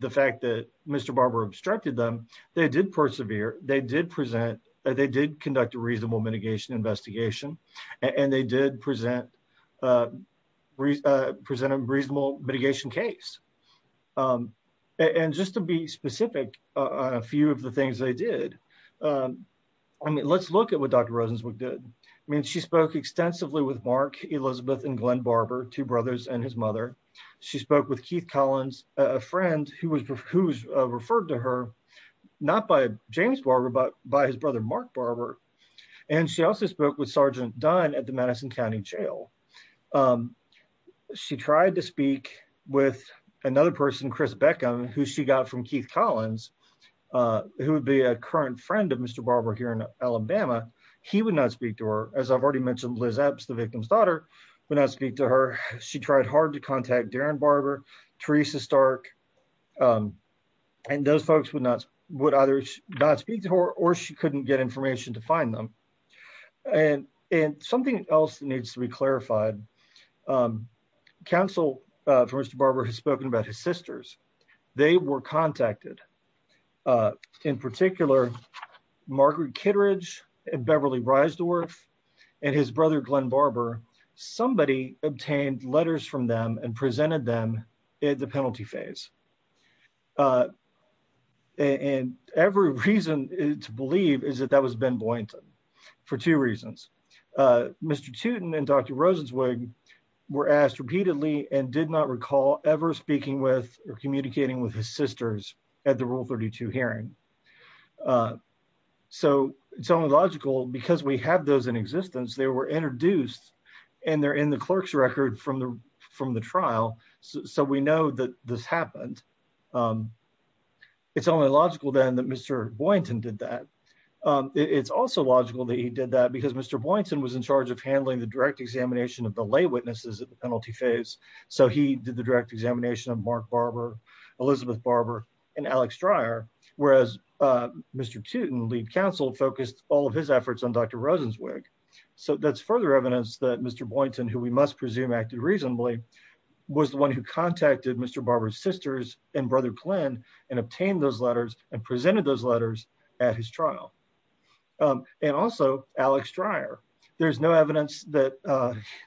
the fact that Mr. Barber obstructed them, they did persevere, they did present, they did conduct a reasonable mitigation investigation, and they did present a reasonable mitigation case. And just to be specific on a few of the things they did, I mean, let's look at what Dr. Rosenzweig did. I mean, she spoke extensively with Mark, Elizabeth, and Glenn Barber, two brothers and his mother. She spoke with Keith Collins, a friend who was referred to her, not by James Barber, but by his brother, Mark Barber. And she also spoke with Sergeant Dunn at the Madison County Jail. She tried to speak with another person, Chris Beckham, who she got from Keith Collins, who would be a current friend of Mr. Barber here in Alabama. He would not speak to her, as I've already mentioned, Liz Epps, the victim's daughter, would not speak to her. She tried hard to contact Darren Barber, Teresa Stark, and those folks would not, would either not speak to her, or she couldn't get information to find them. And something else needs to be clarified. Counsel for Mr. Barber has spoken about his sisters. They were contacted. In particular, Margaret Kittredge and Beverly Breisdorf and his brother, Glenn Barber, somebody obtained letters from them and presented them at the penalty phase. And every reason to believe is that that was Ben Boynton for two reasons. Mr. Tootin and Dr. Rosenzweig were asked repeatedly and did not recall ever speaking with or communicating with his sisters at the Rule 32 hearing. So it's only logical because we have those in existence, they were introduced and they're in the clerk's record from the trial. So we know that this happened. It's only logical then that Mr. Boynton did that. It's also logical that he did that because Mr. Boynton was in charge of handling the direct examination of the lay witnesses at the penalty phase. So he did the direct examination of Mark Barber, Elizabeth Barber, and Alex Dreyer, whereas Mr. Tootin, lead counsel, focused all of his efforts on Dr. Rosenzweig. So that's further evidence that Mr. Boynton, who we must presume acted reasonably, was the one who contacted Mr. Barber's sisters and brother Glenn and obtained those letters and presented those letters at his trial. And also Alex Dreyer. There's no evidence that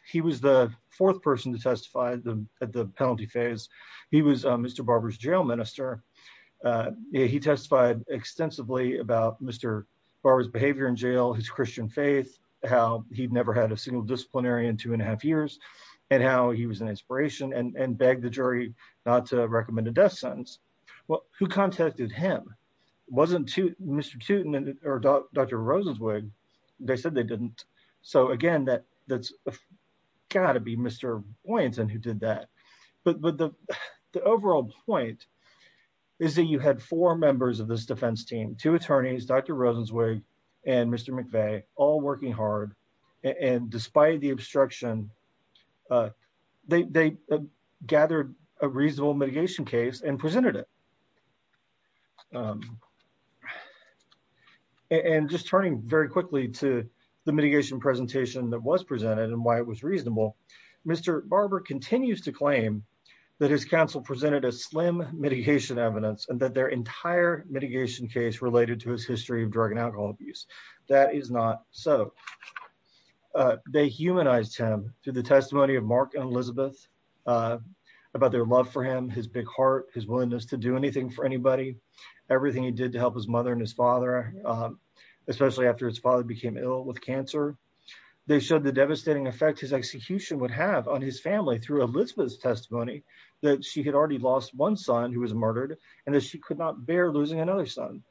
he was the fourth person to testify at the penalty phase. He was Mr. Barber's jail minister. He testified extensively about Mr. Barber's behavior in jail, his Christian faith, how he'd never had a single disciplinarian two and a half years, and how he was an inspiration and begged the jury not to recommend a death sentence. Well, who contacted him? It wasn't Mr. Tootin or Dr. Rosenzweig. They said they didn't. So again, that's gotta be Mr. Boynton who did that. But the overall point is that you had four members of this defense team, two attorneys, Dr. Rosenzweig and Mr. McVeigh, all working hard. And despite the obstruction, they gathered a reasonable mitigation case and presented it. And just turning very quickly to the mitigation presentation that was presented and why it was reasonable, Mr. Barber continues to claim that his counsel presented a slim mitigation evidence and their entire mitigation case related to his history of drug and alcohol abuse. That is not so. They humanized him through the testimony of Mark and Elizabeth about their love for him, his big heart, his willingness to do anything for anybody, everything he did to help his mother and his father, especially after his father became ill with cancer. They showed the devastating effect his execution would have on his family through Elizabeth's testimony that she had already lost one son who was murdered and that she could not bear losing another son.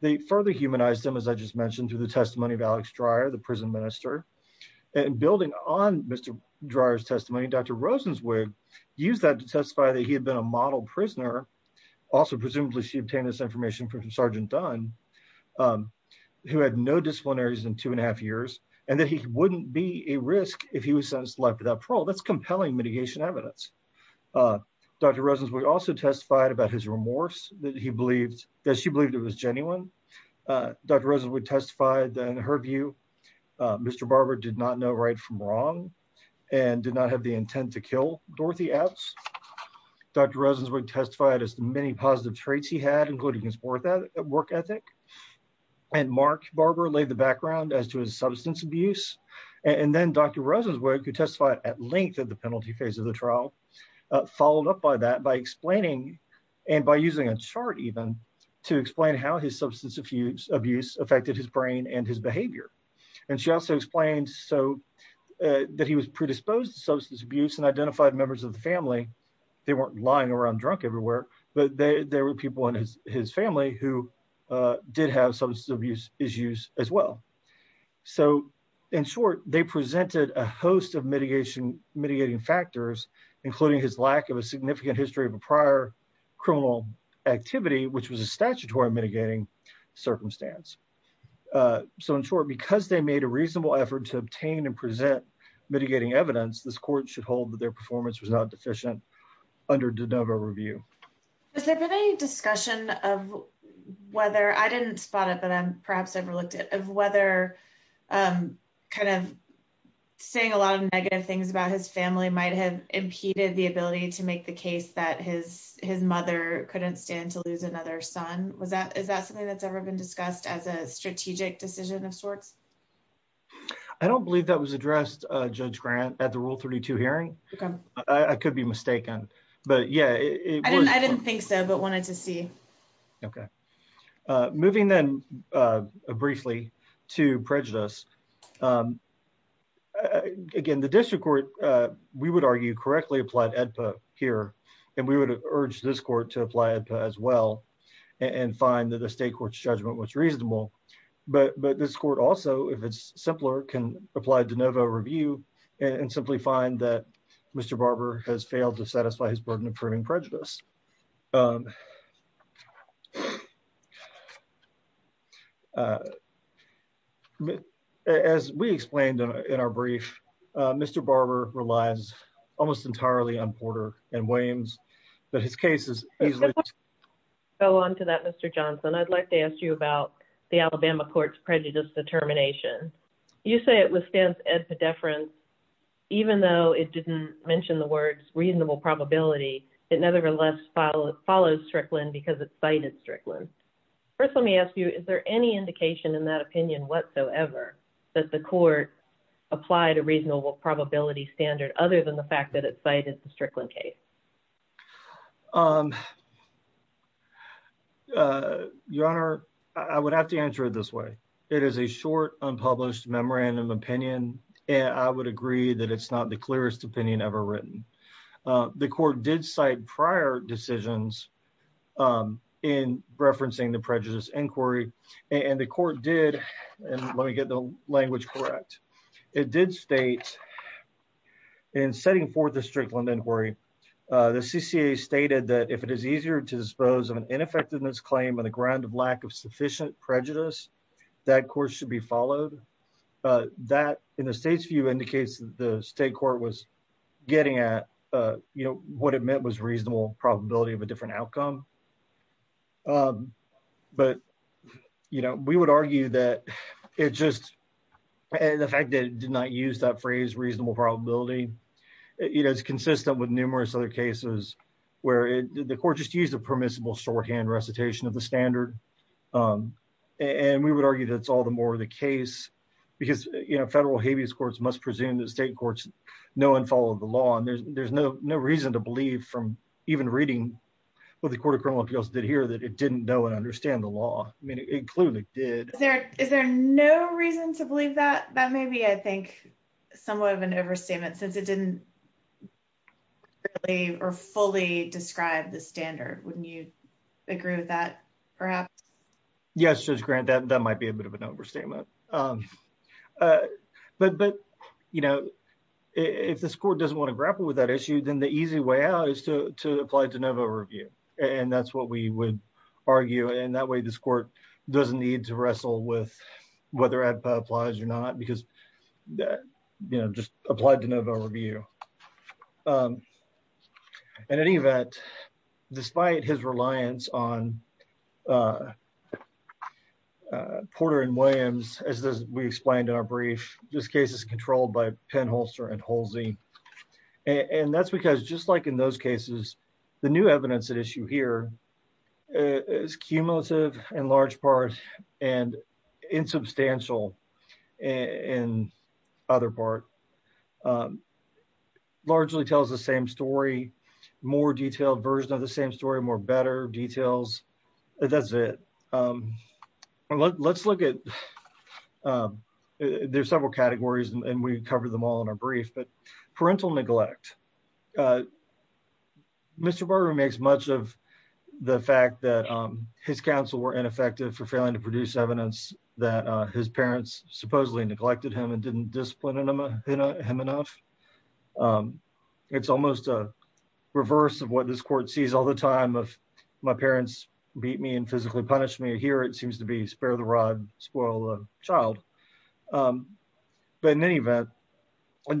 They further humanized him, as I just mentioned, through the testimony of Alex Dreyer, the prison minister. And building on Mr. Dreyer's testimony, Dr. Rosenzweig used that to testify that he had been a model prisoner. Also, presumably she obtained this information from Sergeant Dunn, who had no disciplinaries in two and a half years, and that he wouldn't be a risk if he was sentenced to life without parole. That's compelling mitigation evidence. Dr. Rosenzweig also testified about his remorse that she believed it was genuine. Dr. Rosenzweig testified that, in her view, Mr. Barber did not know right from wrong and did not have the intent to kill Dorothy Epps. Dr. Rosenzweig testified as to many positive traits he had, including his work ethic. And Mark Barber laid the background as to his substance abuse. And then Dr. Rosenzweig, who testified at length of the penalty phase of the trial, followed up by that by explaining, and by using a chart even, to explain how his substance abuse affected his brain and his behavior. And she also explained that he was predisposed to substance abuse and identified members of the family. They weren't lying around drunk everywhere, but there were people in his family who did have substance abuse issues as well. So, in short, they presented a host of mitigating factors, including his lack of a significant history of a prior criminal activity, which was a statutory mitigating circumstance. So, in short, because they made a reasonable effort to obtain and present mitigating evidence, this court should hold that their performance was not deficient under de novo review. Has there been any discussion of whether, I didn't spot it, but I'm perhaps overlooked it, of whether kind of saying a lot of negative things about his family might have impeded the ability to make the case that his mother couldn't stand to lose another son? Is that something that's ever been discussed as a strategic decision of sorts? I don't believe that was addressed, Judge Grant, at the Rule 32 hearing. I could be mistaken, but yeah. I didn't think so, but wanted to see. Okay. Moving then briefly to prejudice. Again, the district court, we would argue, correctly applied AEDPA here, and we would urge this court to apply AEDPA as well and find that the state court's judgment was reasonable. But this court also, if it's simpler, can apply de novo review and simply find that Mr. Barber has failed to satisfy his burden of proving prejudice. As we explained in our brief, Mr. Barber relies almost entirely on Porter and Williams, but his case is... Go on to that, Mr. Johnson. I'd like to ask you about the Alabama court's prejudice determination. You say it withstands AEDPA deference, even though it didn't mention the words reasonable probability, it nevertheless follows Strickland because it cited Strickland. First, let me ask you, is there any indication in that opinion whatsoever that the court applied a reasonable probability standard other than the fact that it cited the Strickland case? Your Honor, I would have to answer it this way. It is a short, unpublished memorandum of opinion, and I would agree that it's not the clearest opinion ever written. The court did cite prior decisions in referencing the prejudice inquiry, and the court did, and let me get the language correct, it did state in setting forth the Strickland inquiry, the CCA stated that if it is easier to dispose of an ineffectiveness claim on the ground of lack of sufficient prejudice, that court should be followed. That, in the state's view, indicates the state court was getting at, you know, what it meant was reasonable probability of a different outcome. But, you know, we would argue that it just, the fact that it did not use that phrase reasonable probability, you know, it's consistent with numerous other cases where the court just used a permissible shorthand recitation of the standard, and we would argue that's all the more the case because, you know, federal habeas courts must presume that state courts know and follow the there's no reason to believe from even reading what the Court of Criminal Appeals did here that it didn't know and understand the law. I mean, it clearly did. Is there no reason to believe that? That may be, I think, somewhat of an overstatement since it didn't or fully describe the standard. Wouldn't you agree with that, perhaps? Yes, Judge Grant, that might be a bit of an overstatement. But, you know, if this court doesn't want to grapple with that issue, then the easy way out is to apply de novo review, and that's what we would argue, and that way this court doesn't need to wrestle with whether ADPA applies or not because you know, just applied de novo review. In any event, despite his reliance on Porter and Williams, as we explained in our brief, this case is controlled by Penn Holster and Holsey, and that's because just like in those cases, the new evidence at issue here is cumulative in large part and insubstantial in other part. Largely tells the same story, more detailed version of the same story, more better details. That's it. Let's look at, there's several categories, and we've covered them all in our brief, but parental neglect. Mr. Barber makes much of the fact that his counsel were ineffective for failing to produce evidence that his parents supposedly neglected him and didn't discipline him enough. It's almost a reverse of what this all the time of my parents beat me and physically punished me. Here it seems to be, spare the rod, spoil the child, but in any event,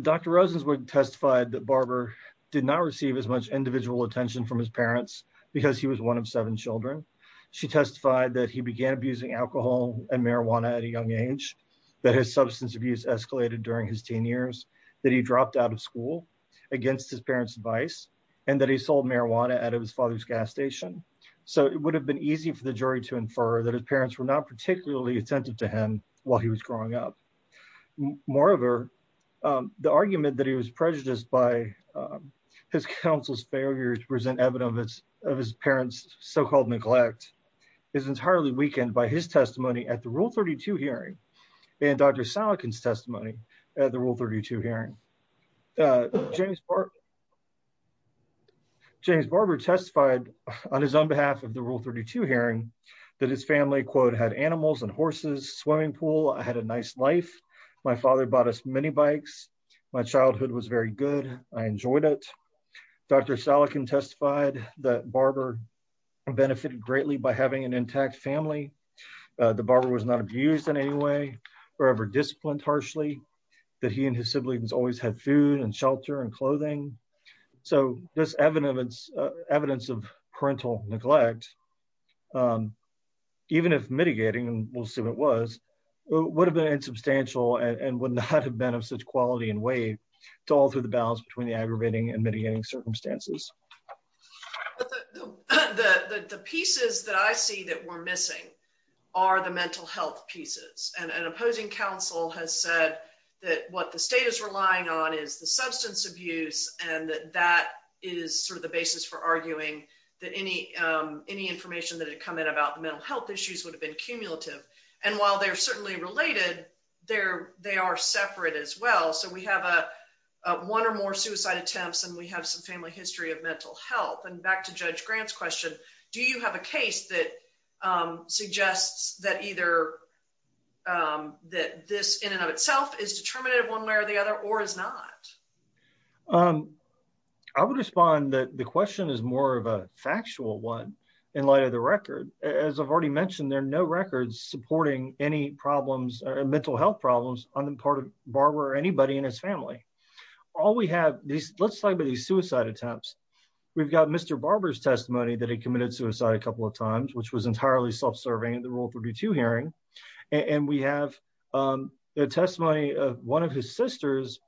Dr. Rosenzweig testified that Barber did not receive as much individual attention from his parents because he was one of seven children. She testified that he began abusing alcohol and marijuana at a young age, that his substance abuse escalated during his teen years, that he dropped out of school against his parents' advice, and that he sold marijuana out of his father's gas station. So it would have been easy for the jury to infer that his parents were not particularly attentive to him while he was growing up. Moreover, the argument that he was prejudiced by his counsel's failure to present evidence of his parents' so-called neglect is entirely weakened by his testimony at the Rule 32 hearing and Dr. Salekin's testimony at the Rule 32 hearing. James Barber testified on his own behalf of the Rule 32 hearing that his family, quote, had animals and horses, swimming pool, I had a nice life, my father bought us minibikes, my childhood was very good, I enjoyed it. Dr. Salekin testified that Barber benefited greatly by having an intact family. The Barber was not abused in any way or ever disciplined harshly, that he and his siblings always had food and shelter and clothing. So this evidence of parental neglect, even if mitigating, and we'll see what it was, would have been insubstantial and would not have been of such quality and weight to alter the balance between the aggravating and mitigating circumstances. But the pieces that I see that we're missing are the mental health pieces. And an opposing counsel has said that what the state is relying on is the substance abuse and that that is sort of the basis for arguing that any information that had come in about the mental health issues would have been cumulative. And while they're certainly related, they are separate as well. So we have one or more suicide attempts and we have some family history of mental health. And back to Judge Grant's question, do you have a case that suggests that either that this in and of itself is determinative one way or the other or is not? I would respond that the question is more of a factual one in light of the record. As I've already mentioned, there are no records supporting any problems or mental health problems on the part of Barber or anybody in his family. All we have, let's talk about these suicide attempts. We've got Mr. Barber's testimony that he committed suicide a couple of times, which was entirely self-serving in the Rule 32 hearing. And we have the testimony of one of his sisters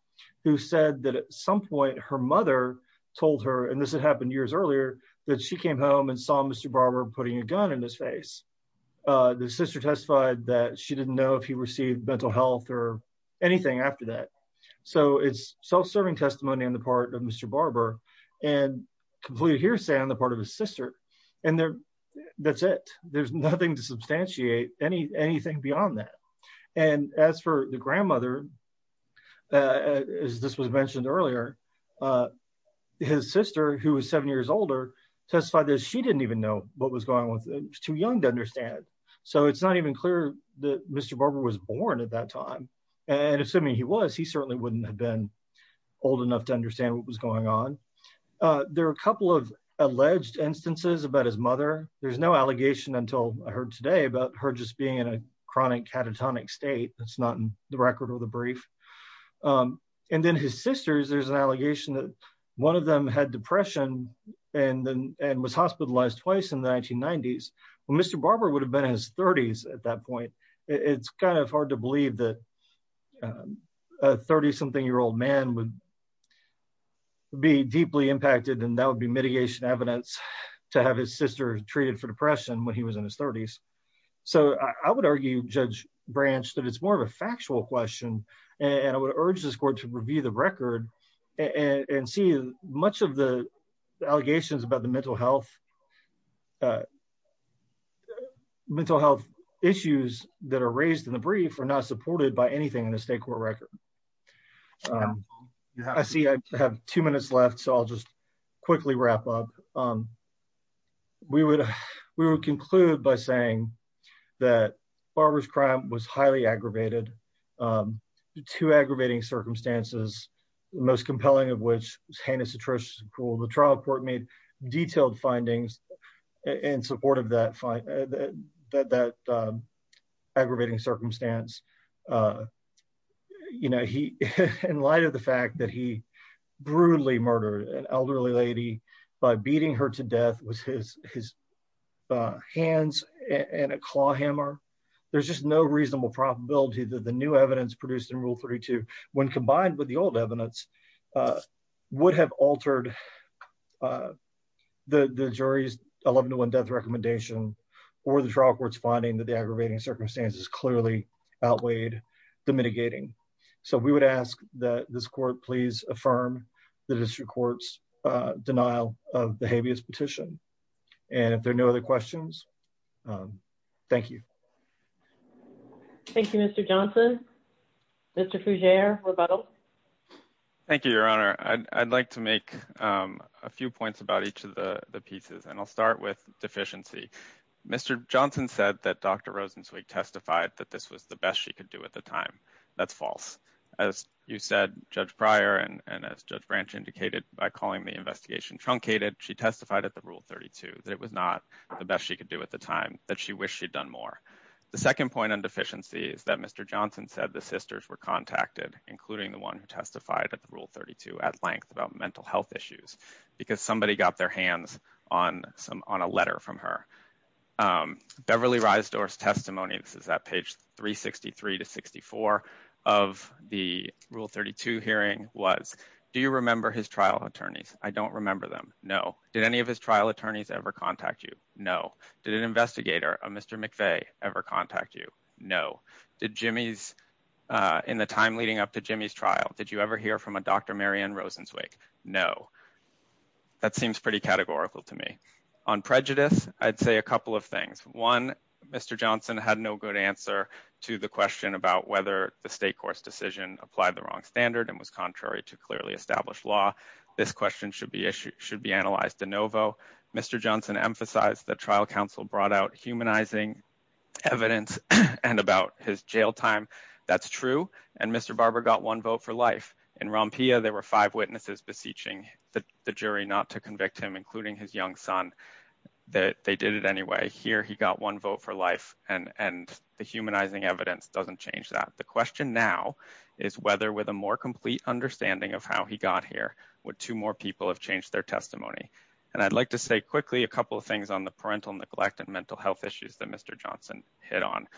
who said that at some point her mother told her, and this had happened years earlier, that she came home and saw Mr. Barber putting a gun in his face. The sister testified that she didn't know if he received mental health or anything after that. So it's self-serving testimony on the part of Mr. Barber and completely hearsay on the part of his sister. And that's it. There's nothing to substantiate anything beyond that. And as for the grandmother, as this was mentioned earlier, his sister, who was seven years older, testified that she didn't even know what was going on with him. She was too young to and assuming he was, he certainly wouldn't have been old enough to understand what was going on. There are a couple of alleged instances about his mother. There's no allegation until I heard today about her just being in a chronic catatonic state. That's not in the record or the brief. And then his sisters, there's an allegation that one of them had depression and was hospitalized twice in the 1990s. Well, Mr. Barber would have been in his 30s at that point. It's hard to believe that a 30-something-year-old man would be deeply impacted and that would be mitigation evidence to have his sister treated for depression when he was in his 30s. So I would argue, Judge Branch, that it's more of a factual question. And I would urge this court to review the record and see much of the allegations about the mental health issues that are raised in the brief are not supported by anything in the state court record. I see I have two minutes left, so I'll just quickly wrap up. We would conclude by saying that Barber's crime was highly aggravated. Two aggravating circumstances, the most compelling of which was heinous, atrocious, cruel. The trial court made detailed findings in support of that aggravating circumstance. You know, in light of the fact that he brutally murdered an elderly lady by beating her to death with his hands and a claw hammer, there's just no reasonable probability that the new evidence produced in Rule 32, when combined with the old evidence, would have altered the jury's 11-to-1 death recommendation or the trial court's finding that the aggravating circumstances clearly outweighed the mitigating. So we would ask that this court please affirm the district court's denial of the habeas petition. And if there are no other questions, um, thank you. Thank you, Mr. Johnson. Mr. Fougere, rebuttal. Thank you, Your Honor. I'd like to make a few points about each of the pieces, and I'll start with deficiency. Mr. Johnson said that Dr. Rosenzweig testified that this was the best she could do at the time. That's false. As you said, Judge Pryor, and as Judge Branch indicated by calling the investigation truncated, she testified at the Rule 32 that it was not the best she could do at the time, that she wished she'd done more. The second point on deficiency is that Mr. Johnson said the sisters were contacted, including the one who testified at the Rule 32 at length about mental health issues, because somebody got their hands on a letter from her. Beverly Reisdor's testimony, this is at page 363 to 64 of the Rule 32 hearing, was, do you remember his trial attorneys? I don't remember them. No. Did any of his trial attorneys ever contact you? No. Did an investigator, a Mr. McVeigh, ever contact you? No. Did Jimmy's, uh, in the time leading up to Jimmy's trial, did you ever hear from a Dr. Marianne Rosenzweig? No. That seems pretty categorical to me. On prejudice, I'd say a couple of things. One, Mr. Johnson had no good answer to the question about whether the state court's decision applied the wrong standard and was contrary to clearly established law. This question should be, should be analyzed de novo. Mr. Johnson emphasized that trial counsel brought out humanizing evidence and about his jail time. That's true. And Mr. Barber got one vote for life. In Rompilla, there were five witnesses beseeching the jury not to convict him, including his young son, that they did it anyway. Here, he got one vote for life and, and the humanizing evidence doesn't change that. The question now is whether with a more complete understanding of how he got here, would two more people have changed their testimony? And I'd like to say quickly a couple of things on the parental neglect and mental health issues that Mr. Johnson hit on.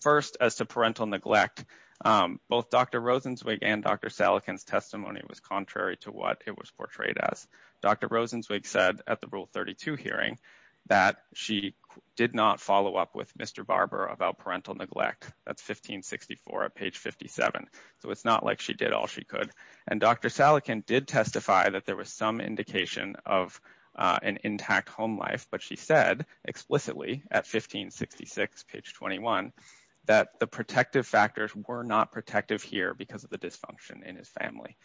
First, as to parental neglect, um, both Dr. Rosenzweig and Dr. Salekin's testimony was contrary to what it was portrayed as. Dr. Rosenzweig said at the Rule 32 hearing that she did not follow up with Mr. Barber about parental neglect. That's 1564 at page 57. So it's not like she did all she could. And Dr. Salekin did testify that there was some indication of, uh, an intact home life, but she said explicitly at 1566, page 21, that the protective factors were not protective here because of the dysfunction in his family.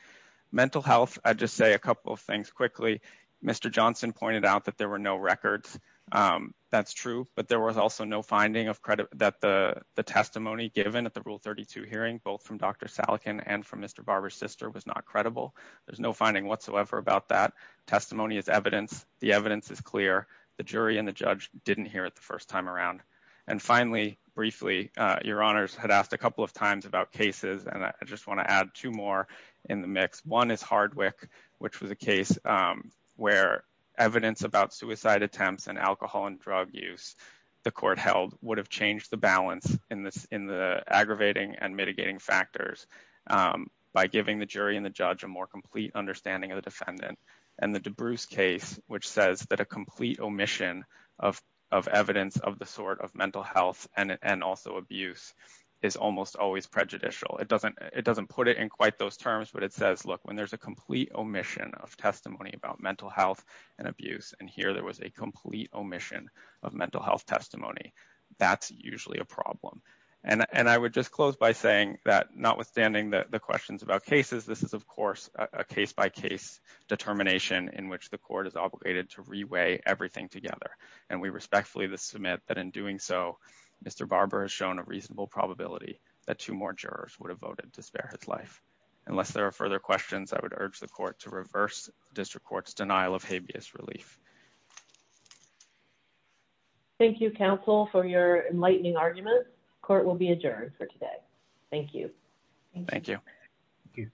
Mental health, I'd just say a couple of things quickly. Mr. Johnson pointed out that there were no records. Um, that's true, but there was also no finding of credit that the testimony given at the Rule 32 hearing, both from Dr. Salekin and from Mr. Barber's sister, was not credible. There's no finding whatsoever about that. Testimony is evidence. The evidence is clear. The jury and the judge didn't hear it the first time around. And finally, briefly, uh, your honors had asked a couple of times about cases, and I just want to add two more in the mix. One is Hardwick, which was a case, um, where evidence about suicide attempts and alcohol and drug use the court held would have changed the balance in this, in the aggravating and mitigating factors, um, by giving the jury and the judge a more complete understanding of the defendant. And the DeBruce case, which says that a complete omission of, of evidence of the sort of mental health and, and also abuse is almost always prejudicial. It doesn't, it doesn't put it in quite those terms, but it says, look, when there's a complete omission of testimony about mental health and abuse, and here there was a complete omission of mental health testimony, that's usually a problem. And, and I would just close by saying that notwithstanding the, the questions about cases, this is, of course, a case-by-case determination in which the court is obligated to reweigh everything together. And we respectfully submit that in doing so, Mr. Barber has shown a reasonable probability that two more jurors would have voted to spare his life. Unless there are further questions, I would urge the court to reverse District Court's denial of habeas relief. Thank you, counsel, for your enlightening argument. Court will be adjourned for today. Thank you. Thank you. Thank you.